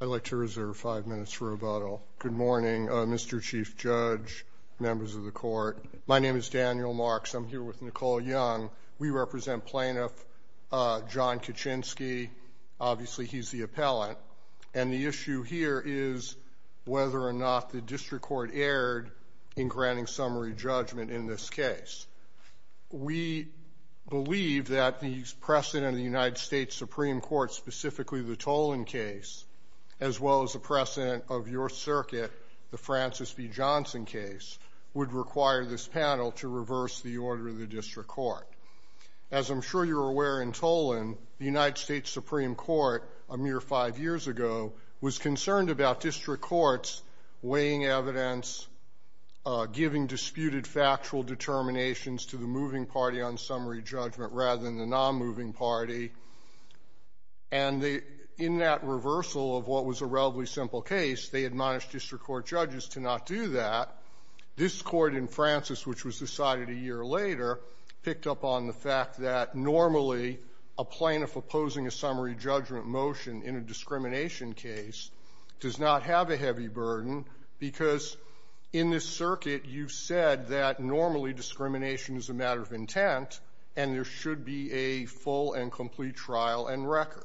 I'd like to reserve five minutes for rebuttal. Good morning, Mr. Chief Judge, members of the court. My name is Daniel Marks. I'm here with Nicole Young. We represent plaintiff John Kocienski. Obviously, he's the appellant. And the issue here is whether or not the district court erred in granting summary judgment in this case. We believe that the precedent of the United States Supreme Court, specifically the Tolan case, as well as the precedent of your circuit, the Francis B. Johnson case, would require this panel to reverse the order of the district court. As I'm sure you're aware in Tolan, the United States Supreme Court, a mere five years ago, was concerned about district courts weighing evidence, giving disputed factual determinations to the moving party on summary judgment rather than the nonmoving party. And in that reversal of what was a relatively simple case, they admonished district court judges to not do that. This Court in Francis, which was decided a year later, picked up on the fact that normally a plaintiff opposing a summary judgment motion in a discrimination case does not have a heavy burden, because in this circuit, you've said that normally discrimination is a matter of intent, and there should be a full and complete trial and record.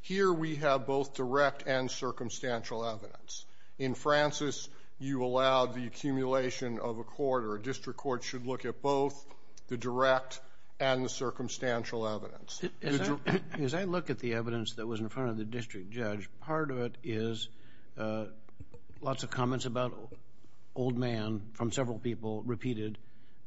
Here we have both direct and circumstantial evidence. In Francis, you allowed the accumulation of a court or a district court should look at both the direct and the circumstantial evidence. As I look at the evidence that was in front of the district judge, part of it is lots of comments about old man from several people repeated.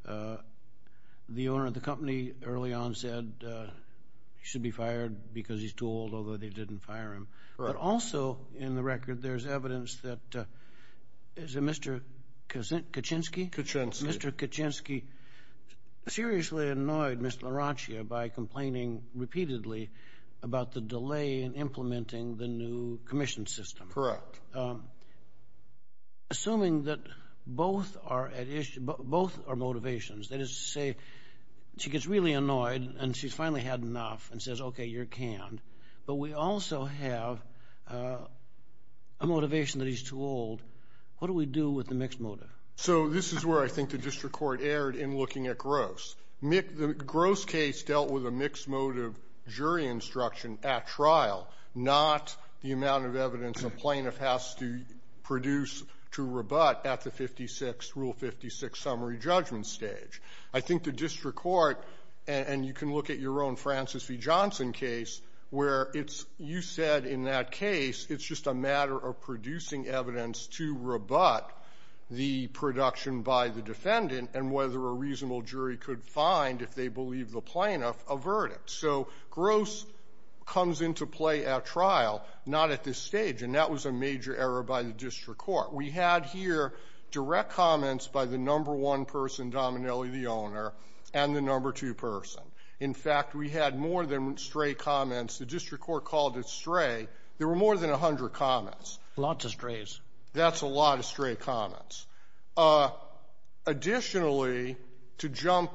The owner of the company early on said he should be fired because he's too old, although they didn't fire him. But also in the record, there's evidence that Mr. Kaczynski seriously annoyed Ms. LaRoccia by complaining repeatedly about the delay in implementing the new commission system. Correct. So assuming that both are motivations, that is to say, she gets really annoyed, and she's finally had enough, and says, OK, you're canned. But we also have a motivation that he's too old. What do we do with the mixed motive? So this is where I think the district court erred in looking at gross. The gross case dealt with a mixed motive jury instruction at trial, not the amount of evidence a plaintiff has to produce to rebut at the Rule 56 summary judgment stage. I think the district court, and you can look at your own Francis V. Johnson case, where you said in that case, it's just a matter of producing evidence to rebut the production by the defendant, and whether a reasonable jury could find, if they believe the plaintiff, a verdict. So gross comes into play at trial, not at this stage. And that was a major error by the district court. We had here direct comments by the number one person, Dominelli, the owner, and the number two person. In fact, we had more than stray comments. The district court called it stray. There were more than 100 comments. Lots of strays. That's a lot of stray comments. Additionally, to jump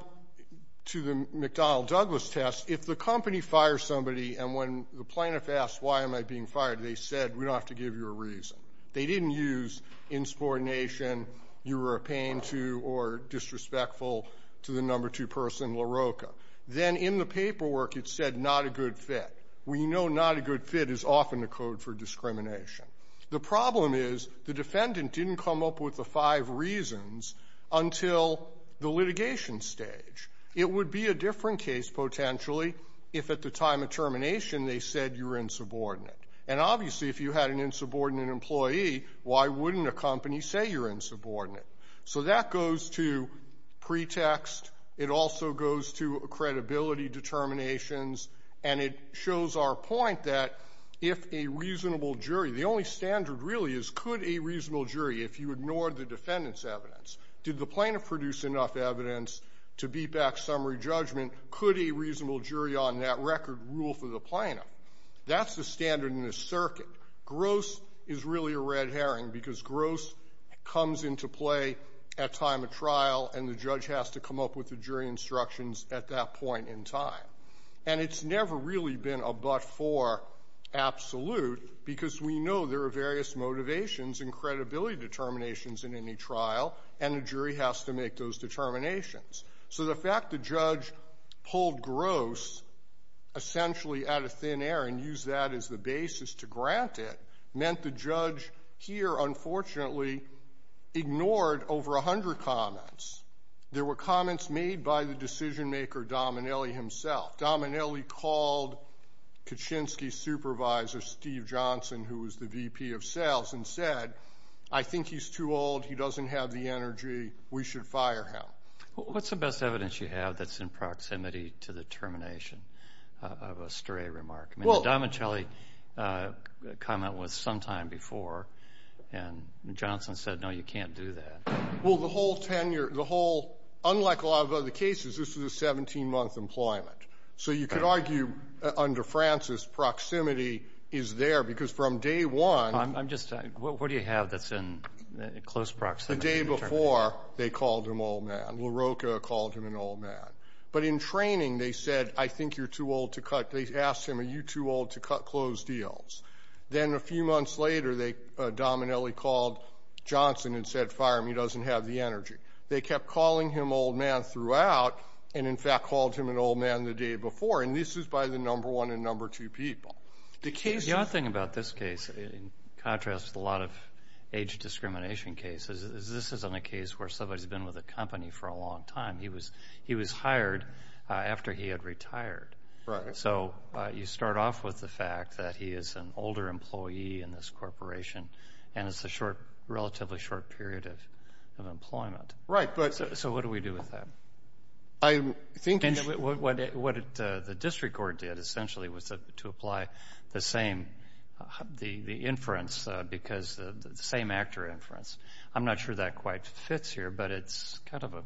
to the McDonnell-Douglas test, if the company fires somebody, and when the plaintiff asks, why am I being fired? They said, we don't have to give you a reason. They didn't use insubordination, you were a pain to, or disrespectful to the number two person, LaRocca. Then in the paperwork, it said, not a good fit. We know not a good fit is often a code for discrimination. The problem is, the defendant didn't come up with the five reasons until the litigation stage. It would be a different case, potentially, if at the time of termination, they said you were insubordinate. And obviously, if you had an insubordinate employee, why wouldn't a company say you're insubordinate? So that goes to pretext. It also goes to credibility determinations. And it shows our point that, if a reasonable jury, the only standard really is, could a reasonable jury, if you ignored the defendant's evidence, did the plaintiff produce enough evidence to beat back summary judgment? Could a reasonable jury on that record rule for the plaintiff? That's the standard in the circuit. Gross is really a red herring, because gross comes into play at time of trial, and the judge has to come up with the jury instructions at that point in time. And it's never really been a but-for absolute, because we know there are various motivations and credibility determinations in any trial, and the jury has to make those determinations. So the fact the judge pulled gross, essentially, out of thin air and used that as the basis to grant it, meant the judge here, unfortunately, ignored over 100 comments. There were comments made by the decision-maker, Dominelli, himself. Dominelli called Kaczynski's supervisor, Steve Johnson, who was the VP of sales, and said, I think he's too old, he doesn't have the energy, we should fire him. What's the best evidence you have that's in proximity to the termination of a stray remark? I mean, the Dominelli comment was sometime before, and Johnson said, no, you can't do that. Well, the whole tenure, the whole, unlike a lot of other cases, this is a 17-month employment. So you could argue, under Francis, proximity is there, because from day one — I'm just — what do you have that's in close proximity to the termination? The day before, they called him old man. LaRocca called him an old man. But in training, they said, I think you're too old to cut — they asked him, are you too old to cut closed deals? Then a few months later, Dominelli called Johnson and said, fire him, he doesn't have the energy. They kept calling him old man throughout, and in fact called him an old man the day before. And this is by the number one and number two people. The case — The odd thing about this case, in contrast with a lot of age discrimination cases, is this isn't a case where somebody's been with a company for a long time. He was hired after he had retired. Right. So you start off with the fact that he is an older employee in this corporation, and it's a short — relatively short period of employment. Right, but — So what do we do with that? I think — And what the district court did, essentially, was to apply the same — the inference, because — the same actor inference. I'm not sure that quite fits here, but it's kind of a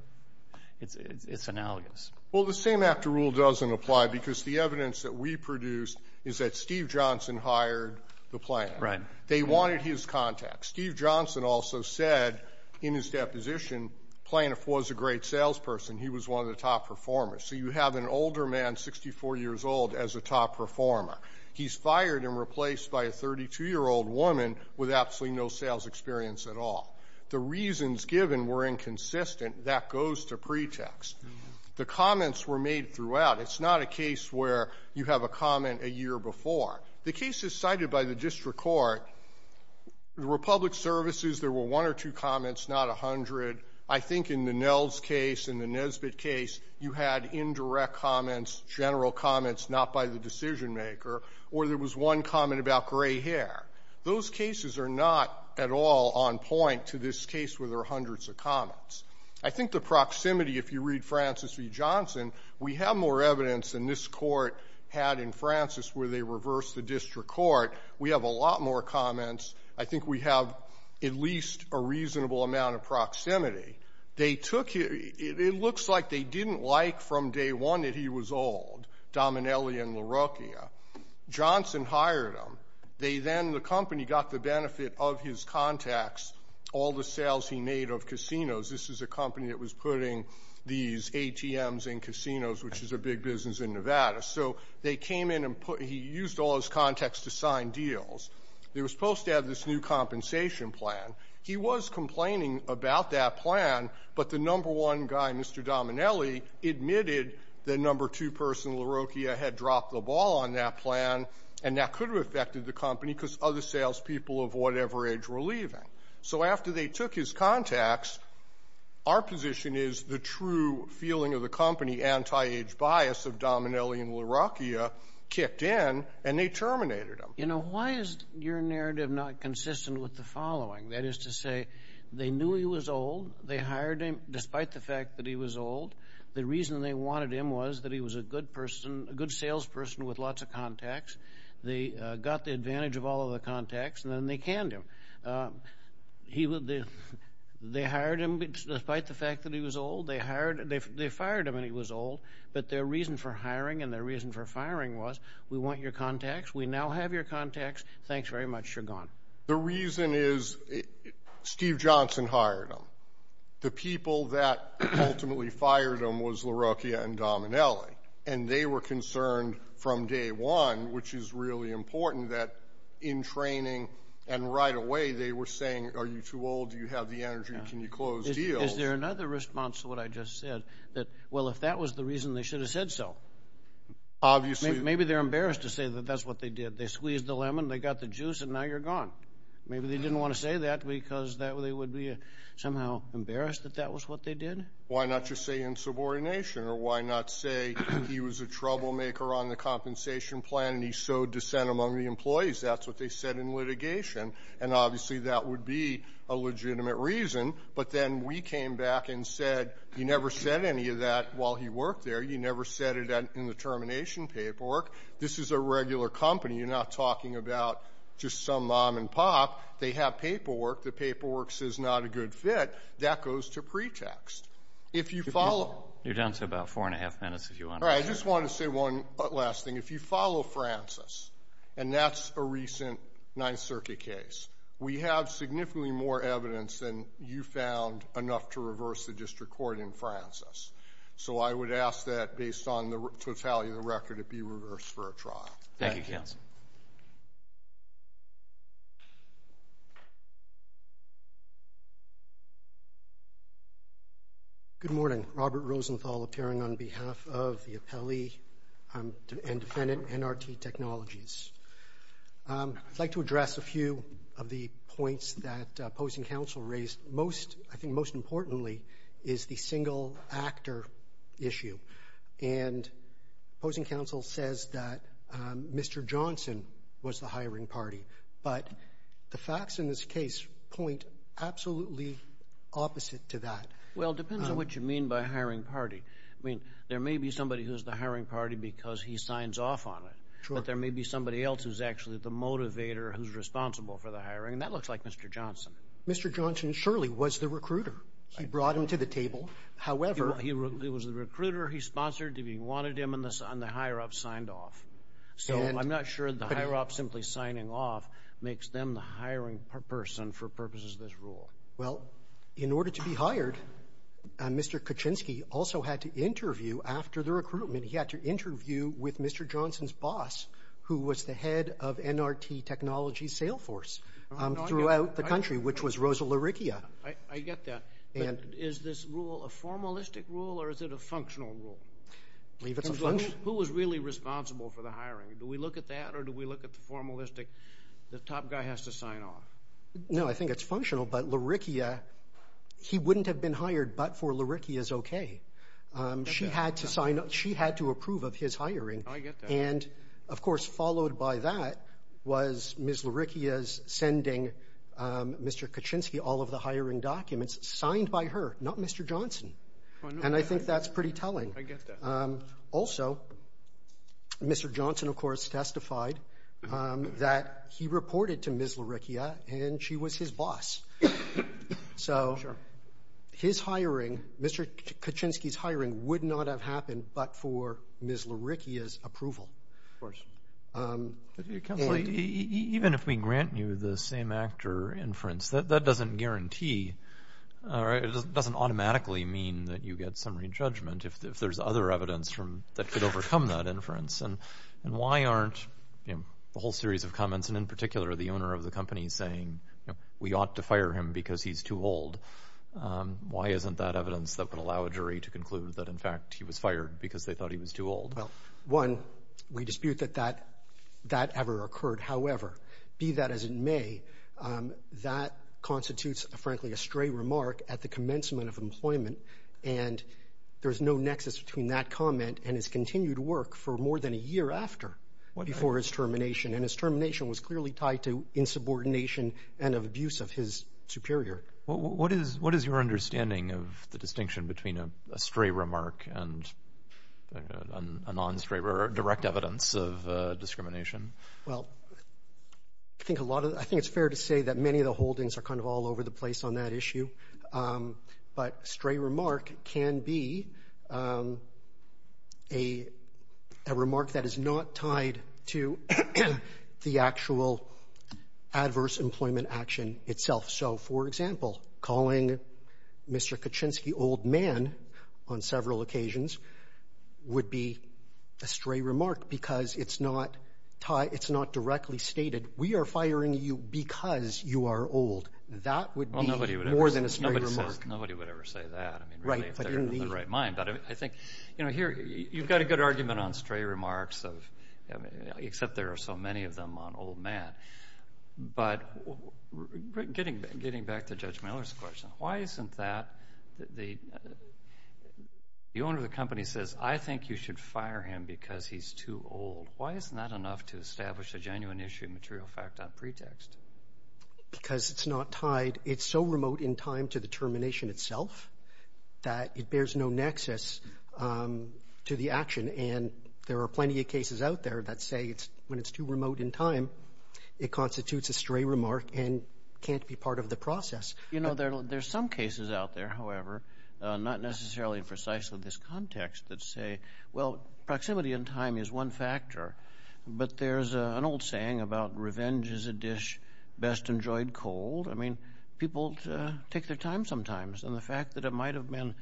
— it's analogous. Well, the same actor rule doesn't apply, because the evidence that we produced is that Steve Johnson hired the plaintiff. Right. They wanted his contact. Steve Johnson also said, in his deposition, plaintiff was a great salesperson. He was one of the top performers. So you have an older man, 64 years old, as a top performer. He's fired and replaced by a 32-year-old woman with absolutely no sales experience at all. The reasons given were inconsistent. That goes to pretext. The comments were made throughout. It's not a case where you have a comment a year before. The cases cited by the district court, the Republic Services, there were one or two comments, not a hundred. I think in the Nels case and the Nesbitt case, you had indirect comments, general comments, not by the decision-maker, or there was one comment about gray hair. Those cases are not at all on point to this case where there are hundreds of comments. I think the proximity, if you read Francis v. Johnson, we have more evidence than this Court had in Francis where they reversed the district court. We have a lot more comments. I think we have at least a reasonable amount of proximity. They took it. It looks like they didn't like from day one that he was old, Dominelli and LaRocchia. Johnson hired him. They then, the company, got the benefit of his contacts, all the sales he made of casinos. This is a company that was putting these ATMs in casinos, which is a big business in Nevada. So they came in and put, he used all his contacts to sign deals. They were supposed to have this new compensation plan. He was complaining about that plan, but the number one guy, Mr. Dominelli, admitted that number two person, LaRocchia, had dropped the ball on that plan, and that could have affected the company because other salespeople of whatever age were leaving. So after they took his contacts, our position is the true feeling of the company, anti-age bias of Dominelli and LaRocchia, kicked in and they terminated him. You know, why is your narrative not consistent with the following? That is to say, they knew he was old. They hired him despite the fact that he was old. The reason they wanted him was that he was a good person, with lots of contacts. They got the advantage of all of the contacts, and then they canned him. They hired him despite the fact that he was old. They hired, they fired him when he was old, but their reason for hiring and their reason for firing was, we want your contacts. We now have your contacts. Thanks very much, you're gone. The reason is Steve Johnson hired him. The people that ultimately fired him was LaRocchia and Dominelli, and they were concerned from day one, which is really important, that in training and right away, they were saying, are you too old? Do you have the energy? Can you close deals? Is there another response to what I just said? That, well, if that was the reason, they should have said so. Obviously. Maybe they're embarrassed to say that that's what they did. They squeezed the lemon, they got the juice and now you're gone. Maybe they didn't want to say that because they would be somehow embarrassed that that was what they did. Why not just say insubordination or why not say he was a troublemaker on the compensation plan and he sowed dissent among the employees? That's what they said in litigation. And obviously, that would be a legitimate reason. But then we came back and said, you never said any of that while he worked there. You never said it in the termination paperwork. This is a regular company. You're not talking about just some mom and pop. They have paperwork. The paperwork says not a good fit. That goes to pretext. If you follow. You're down to about four and a half minutes. If you want. I just want to say one last thing. If you follow Francis and that's a recent Ninth Circuit case, we have significantly more evidence than you found enough to reverse the district court in Francis. So I would ask that based on the totality of the record, it be reversed for a trial. Thank you, counsel. Good morning, Robert Rosenthal, appearing on behalf of the appellee and defendant NRT Technologies. I'd like to address a few of the points that opposing counsel raised most. I think most importantly is the single actor issue. And opposing counsel says that Mr. Johnson was the hiring party. But the facts in this case point absolutely opposite to that. Well, it depends on what you mean by hiring party. I mean, there may be somebody who's the hiring party because he signs off on it. But there may be somebody else who's actually the motivator, who's responsible for the hiring. And that looks like Mr. Johnson. Mr. Johnson surely was the recruiter. He brought him to the table. However, he was the recruiter. He sponsored if he wanted him and the higher ups signed off. So I'm not sure the higher ups simply signing off makes them the hiring person for purposes of this rule. Well, in order to be hired, Mr. Kuczynski also had to interview after the recruitment. He had to interview with Mr. Johnson's boss, who was the head of NRT Technologies' sales force throughout the country, which was Rosa Larickia. I get that. And is this rule a formalistic rule or is it a functional rule? I believe it's a functional rule. Who was really responsible for the hiring? Do we look at that or do we look at the formalistic, the top guy has to sign off? No, I think it's functional. But Larickia, he wouldn't have been hired, but for Larickia's okay. She had to approve of his hiring. Oh, I get that. And of course, followed by that was Ms. Larickia's sending Mr. Kuczynski all of the hiring documents signed by her, not Mr. Johnson. And I think that's pretty telling. I get that. Also, Mr. Johnson, of course, testified that he reported to Ms. Larickia and she was his boss. So his hiring, Mr. Kuczynski's hiring would not have happened, but for Ms. Larickia's approval. Of course. Even if we grant you the same actor inference, that doesn't guarantee, or it doesn't automatically mean that you get summary judgment. If there's other evidence from that could overcome that inference and why aren't the whole series of comments and in particular, the owner of the company saying, we ought to fire him because he's too old. Why isn't that evidence that could allow a jury to conclude that in fact he was fired because they thought he was too old? Well, one, we dispute that that ever occurred. However, be that as it may, that constitutes, frankly, a stray remark at the commencement of employment. And there's no nexus between that comment and his continued work for more than a year after before his termination. And his termination was clearly tied to insubordination and of abuse of his superior. What is your understanding of the distinction between a stray remark and a non-stray remark, direct evidence of discrimination? Well, I think it's fair to say that many of the holdings are kind of all over the place on that issue. But a stray remark can be a remark that is not tied to the actual adverse employment action itself. So for example, calling Mr. Kaczynski old man on several occasions would be a stray remark because it's not directly stated, we are firing you because you are old. That would be more than a stray remark. Nobody would ever say that. I mean, really, if they're in the right mind. But I think, you know, here, you've got a good argument on stray remarks, except there are so many of them on old man. But getting back to Judge Miller's question, why isn't that the owner of the company says, I think you should fire him because he's too old. Why isn't that enough to establish a genuine issue of material fact on pretext? Because it's not tied. It's so remote in time to the termination itself that it bears no nexus to the action. And there are plenty of cases out there that say it's when it's too remote in time, it constitutes a stray remark and can't be part of the process. You know, there's some cases out there, however, not necessarily precisely this context that say, well, proximity in time is one factor. But there's an old saying about revenge is a dish best enjoyed cold. I mean, people take their time sometimes. And the fact that it might have been,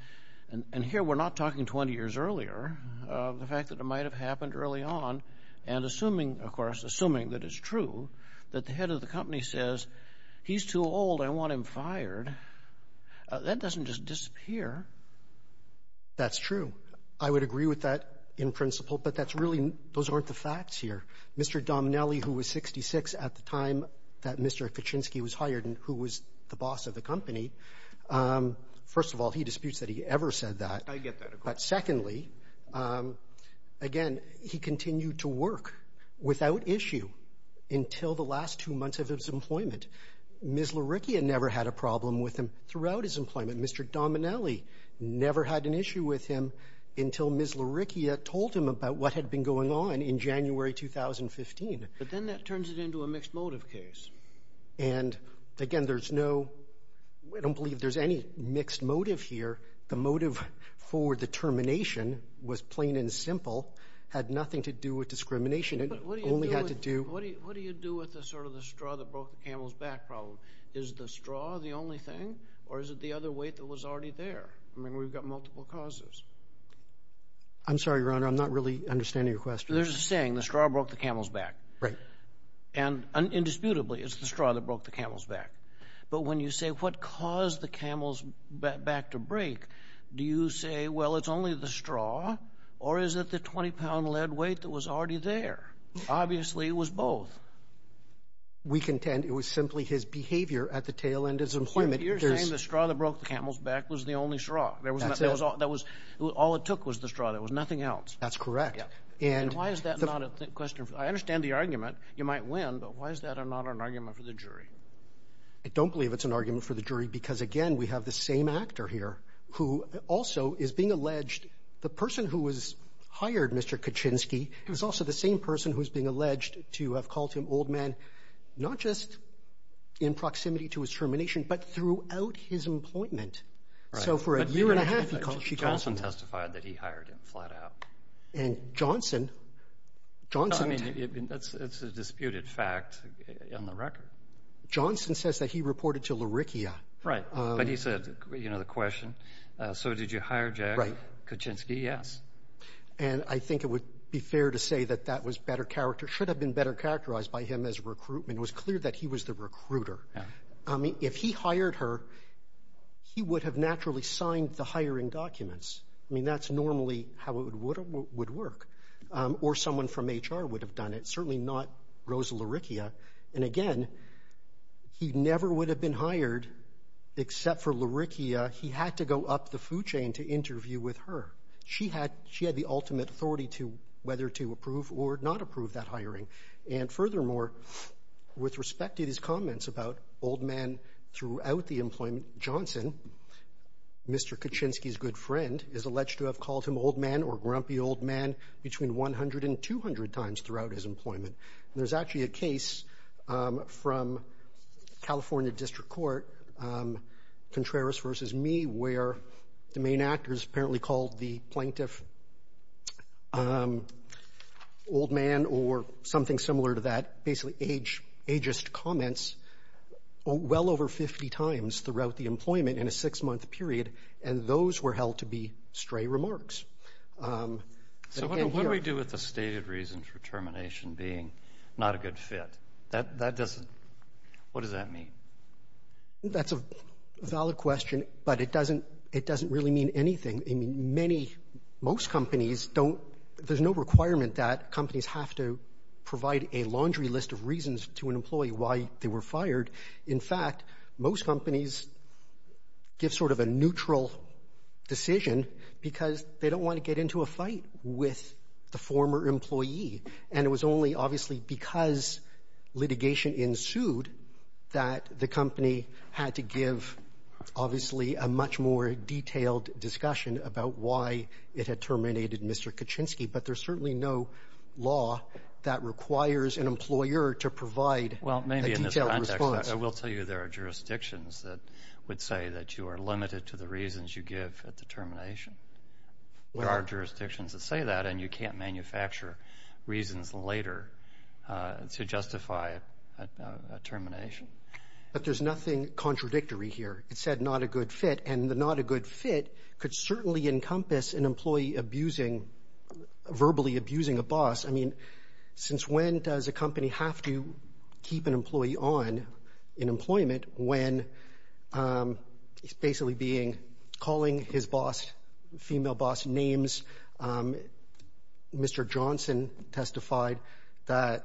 and here we're not talking 20 years earlier, the fact that it might have happened early on and assuming, of course, assuming that it's true, that the head of the company says, he's too old, I want him fired. That doesn't just disappear. That's true. I would agree with that in principle. But that's really, those aren't the facts here. Mr. Dominelli, who was 66 at the time that Mr. Kuczynski was hired and who was the boss of the company, first of all, he disputes that he ever said that. I get that. But secondly, again, he continued to work without issue until the last two months of his employment. Ms. Luricchia never had a problem with him throughout his employment. Mr. Dominelli never had an issue with him until Ms. Luricchia told him about what had been going on in January 2015. But then that turns it into a mixed motive case. And again, there's no, I don't believe there's any mixed motive here. The motive for the termination was plain and simple, had nothing to do with discrimination. It only had to do... What do you do with the sort of the straw that broke the camel's back problem? Is the straw the only thing or is it the other weight that was already there? I mean, we've got multiple causes. I'm sorry, Your Honor, I'm not really understanding your question. There's a saying, the straw broke the camel's back. Right. And indisputably, it's the straw that broke the camel's back. But when you say what caused the camel's back to break, do you say, well, it's only the straw or is it the 20-pound lead weight that was already there? Obviously, it was both. We contend it was simply his behavior at the tail end of his employment. You're saying the straw that broke the camel's back was the only straw. That's it. All it took was the straw. There was nothing else. That's correct. And why is that not a question? I understand the argument. You might win, but why is that not an argument for the jury? I don't believe it's an argument for the jury because, again, we have the same actor here who also is being alleged. The person who was hired, Mr. Kaczynski, he was also the same person who was being alleged to have called him old man, not just in proximity to his termination, but throughout his employment. So for a year and a half, he called him that. Johnson testified that he hired him flat out. And Johnson, Johnson... I mean, it's a disputed fact on the record. Johnson says that he reported to LaRickia. Right. But he said, you know, the question, so did you hire Jack Kaczynski? Yes. And I think it would be fair to say that that was better character, should have been better characterized by him as recruitment. It was clear that he was the recruiter. I mean, if he hired her, he would have naturally signed the hiring documents. I mean, that's normally how it would work. Or someone from HR would have done it, certainly not Rosa LaRickia. And again, he never would have been hired except for LaRickia. He had to go up the food chain to interview with her. She had the ultimate authority to whether to approve or not approve that hiring. And furthermore, with respect to these comments about old man throughout the employment, Johnson, Mr. Kaczynski's good friend, is alleged to have called him old man or grumpy old man between 100 and 200 times throughout his employment. There's actually a case from California District Court, Contreras versus me, where the main actors apparently called the plaintiff old man or something similar to that, basically ageist comments, well over 50 times throughout the employment in a six-month period. And those were held to be stray remarks. So what do we do with the stated reason for termination being not a good fit? That doesn't, what does that mean? That's a valid question, but it doesn't really mean anything. I mean, most companies don't, there's no requirement that companies have to to an employee why they were fired. In fact, most companies give sort of a neutral decision because they don't want to get into a fight with the former employee. And it was only obviously because litigation ensued that the company had to give, obviously, a much more detailed discussion about why it had terminated Mr. Kaczynski. But there's certainly no law that requires an employer to provide a detailed response. Well, maybe in this context, I will tell you there are jurisdictions that would say that you are limited to the reasons you give at the termination. There are jurisdictions that say that and you can't manufacture reasons later to justify a termination. But there's nothing contradictory here. It said not a good fit, and the not a good fit could certainly encompass an employee verbally abusing a boss. I mean, since when does a company have to keep an employee on in employment when he's basically calling his female boss names? Mr. Johnson testified that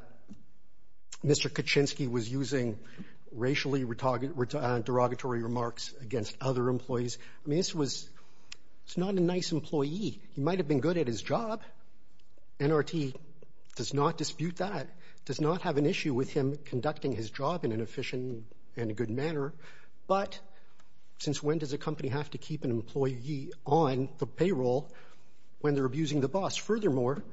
Mr. Kaczynski was using racially derogatory remarks against other employees. I mean, it's not a nice employee. He might have been good at his job. NRT does not dispute that, does not have an issue with him conducting his job in an efficient and a good manner. But since when does a company have to keep an employee on the payroll when they're abusing the boss? Furthermore,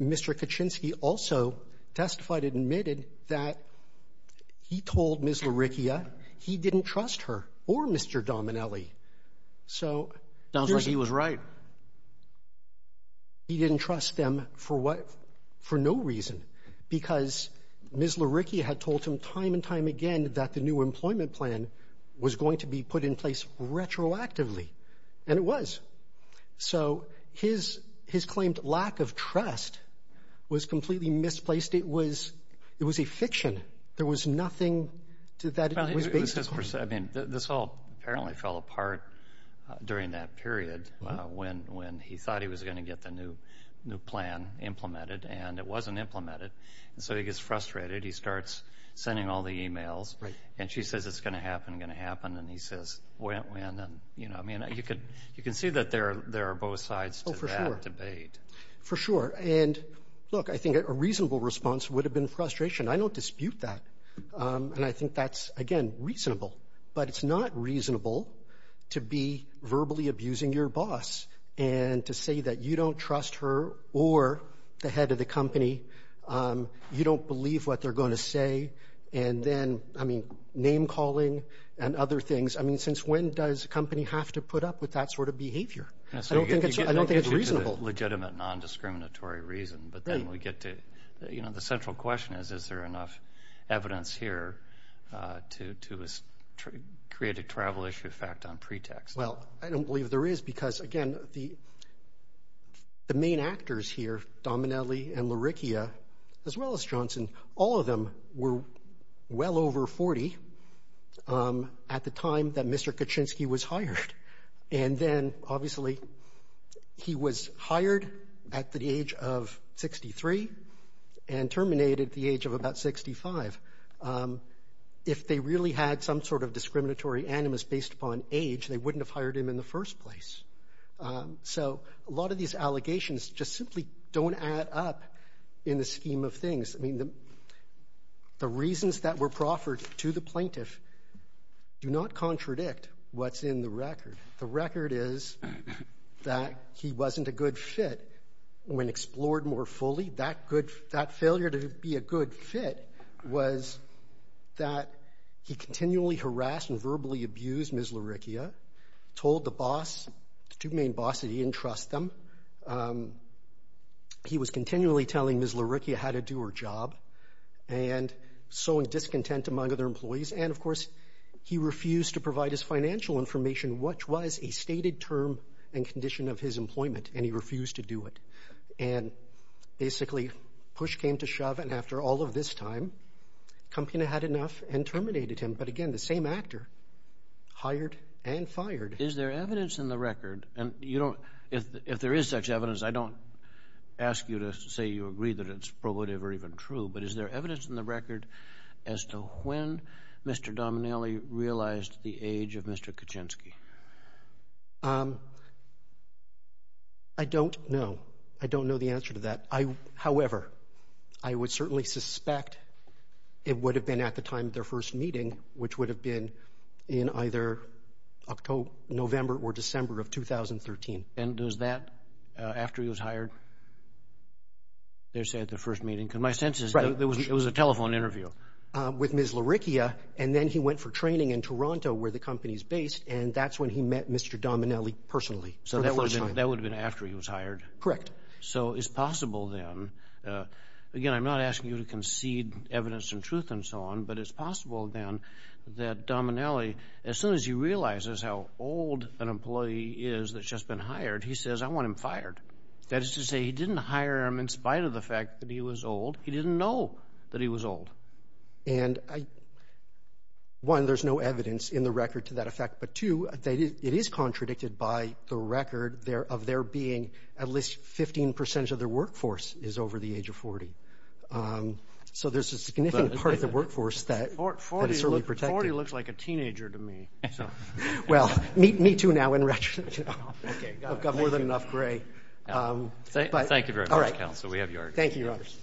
Mr. Kaczynski also testified and admitted that he told Ms. LaRicchia he didn't trust her or Mr. Dominelli. So... Sounds like he was right. ...he didn't trust them for what, for no reason, because Ms. LaRicchia had told him time and time again that the new employment plan was going to be put in place retroactively, and it was. So his claimed lack of trust was completely misplaced. It was a fiction. There was nothing that it was based on. I mean, this all apparently fell apart during that period when he thought he was going to get the new plan implemented, and it wasn't implemented. And so he gets frustrated. He starts sending all the emails. Right. And she says, it's going to happen, going to happen. And he says, when? And, you know, I mean, you can see that there are both sides to that debate. For sure. And look, I think a reasonable response would have been frustration. I don't dispute that. And I think that's, again, reasonable. But it's not reasonable to be verbally abusing your boss and to say that you don't trust her or the head of the company. You don't believe what they're going to say. And then, I mean, name-calling and other things. I mean, since when does a company have to put up with that sort of behavior? I don't think it's reasonable. Legitimate, non-discriminatory reason. But then we get to, you know, the central question is, is there enough evidence here to create a travel issue effect on pretext? Well, I don't believe there is. Because, again, the main actors here, Dominelli and Lauricchia, as well as Johnson, all of them were well over 40 at the time that Mr. Kaczynski was hired. And then, obviously, he was hired at the age of 63 and terminated at the age of about 65. If they really had some sort of discriminatory animus based upon age, they wouldn't have hired him in the first place. So a lot of these allegations just simply don't add up in the scheme of things. I mean, the reasons that were proffered to the plaintiff do not contradict what's in the record. The record is that he wasn't a good fit. When explored more fully, that failure to be a good fit was that he continually harassed and verbally abused Ms. Lauricchia, told the boss, the two main bosses, he didn't trust them. He was continually telling Ms. Lauricchia how to do her job and sowing discontent among other employees. And, of course, he refused to provide his financial information, which was a stated term and condition of his employment. And he refused to do it. And basically, push came to shove. And after all of this time, Campina had enough and terminated him. But again, the same actor hired and fired. Is there evidence in the record? And if there is such evidence, I don't ask you to say you agree that it's probative or even true. But is there evidence in the record as to when Mr. Dominelli realized the age of Mr. Kaczynski? I don't know. I don't know the answer to that. However, I would certainly suspect it would have been at the time of their first meeting, which would have been in either October, November, or December of 2013. And was that after he was hired? They said the first meeting. Because my sense is it was a telephone interview. With Ms. Lauricchia. And then he went for training in Toronto, where the company is based. And that's when he met Mr. Dominelli personally. So that would have been after he was hired? Correct. So it's possible then, again, I'm not asking you to concede evidence and truth and so on, but it's possible then that Dominelli, as soon as he realizes how old an employee is that's just been hired, he says, I want him fired. That is to say he didn't hire him in spite of the fact that he was old. He didn't know that he was old. And one, there's no evidence in the record to that effect. But two, it is contradicted by the record of there being at least 15% of the workforce is over the age of 40. So there's a significant part of the workforce that is certainly protected. 40 looks like a teenager to me. Well, me too now in retrospect. I've got more than enough gray. We have your order. Thank you, Your Honors.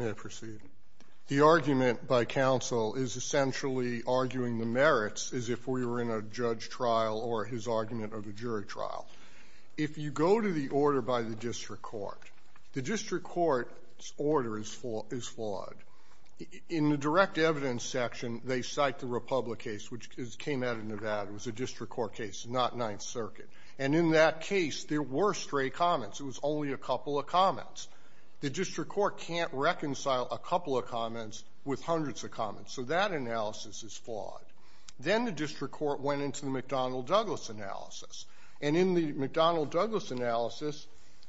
May I proceed? The argument by counsel is essentially arguing the merits as if we were in a judge trial or his argument of a jury trial. If you go to the order by the district court, the district court's order is flawed. In the direct evidence section, they cite the Republic case, which came out of Nevada. It was a district court case, not Ninth Circuit. And in that case, there were stray comments. It was only a couple of comments. The district court can't reconcile a couple of comments with hundreds of comments. So that analysis is flawed. Then the district court went into the McDonnell-Douglas analysis. And in the McDonnell-Douglas analysis,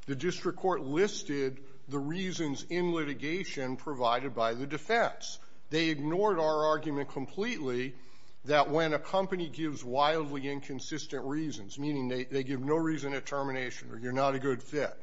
the district court listed the reasons in litigation provided by the defense. They ignored our argument completely that when a company gives wildly inconsistent reasons, meaning they give no reason at termination or you're not a good fit,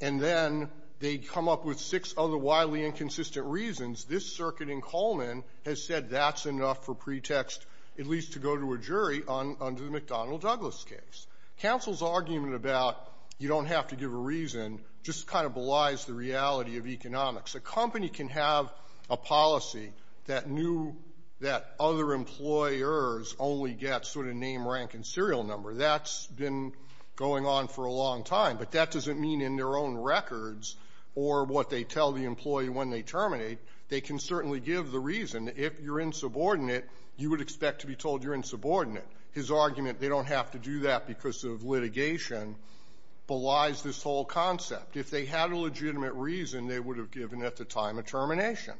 and then they come up with six other wildly inconsistent reasons, this circuit in Coleman has said that's enough for pretext at least to go to a jury on the McDonnell-Douglas case. Counsel's argument about you don't have to give a reason just kind of belies the reality of economics. A company can have a policy that knew that other employers only get sort of name, rank, and serial number. That's been going on for a long time. But that doesn't mean in their own records or what they tell the employee when they terminate, they can certainly give the reason. If you're insubordinate, you would expect to be told you're insubordinate. His argument they don't have to do that because of litigation belies this whole concept. If they had a legitimate reason, they would have given at the time of termination.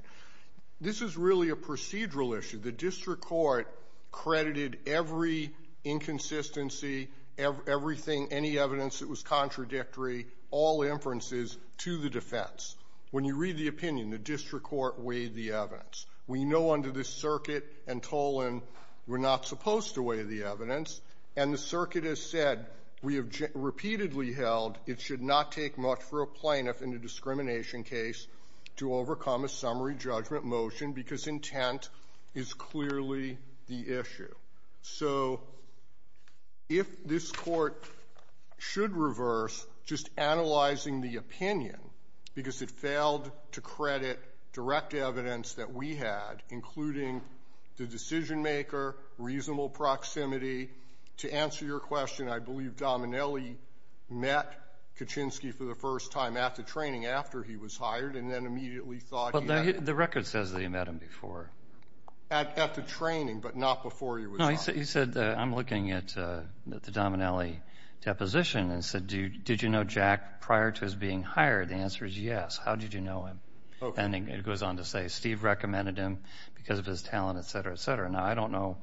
This is really a procedural issue. The district court credited every inconsistency, everything, any evidence that was contradictory, all inferences to the defense. When you read the opinion, the district court weighed the evidence. We know under this circuit and Tolan, we're not supposed to weigh the evidence. And the circuit has said, we have repeatedly held it should not take much for a plaintiff in a discrimination case to overcome a summary judgment motion because intent is clearly the issue. So if this court should reverse just analyzing the opinion because it failed to credit direct evidence that we had, including the decision maker, reasonable proximity. To answer your question, I believe Dominelli met Kuczynski for the first time at the training after he was hired and then immediately thought... The record says that he met him before. At the training, but not before he was... No, he said, I'm looking at the Dominelli deposition and said, did you know Jack prior to his being hired? The answer is yes. How did you know him? And it goes on to say, Steve recommended him because of his talent, et cetera, et cetera. Now, I don't know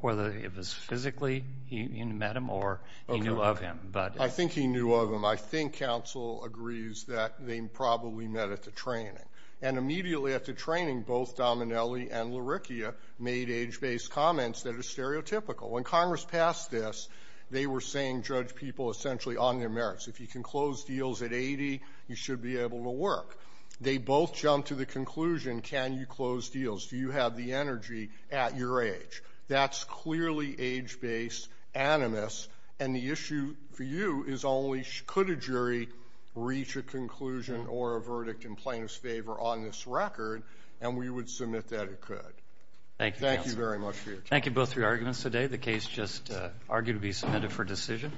whether it was physically he met him or he knew of him, but... I think he knew of him. I think counsel agrees that they probably met at the training. And immediately after training, both Dominelli and Lirikia made age-based comments that are stereotypical. When Congress passed this, they were saying judge people essentially on their merits. If you can close deals at 80, you should be able to work. They both jumped to the conclusion, can you close deals? Do you have the energy at your age? That's clearly age-based animus. And the issue for you is only could a jury reach a conclusion or a verdict in plaintiff's favor on this record, and we would submit that it could. Thank you, counsel. Thank you very much for your time. Thank you both for your arguments today. The case just argued to be submitted for decision.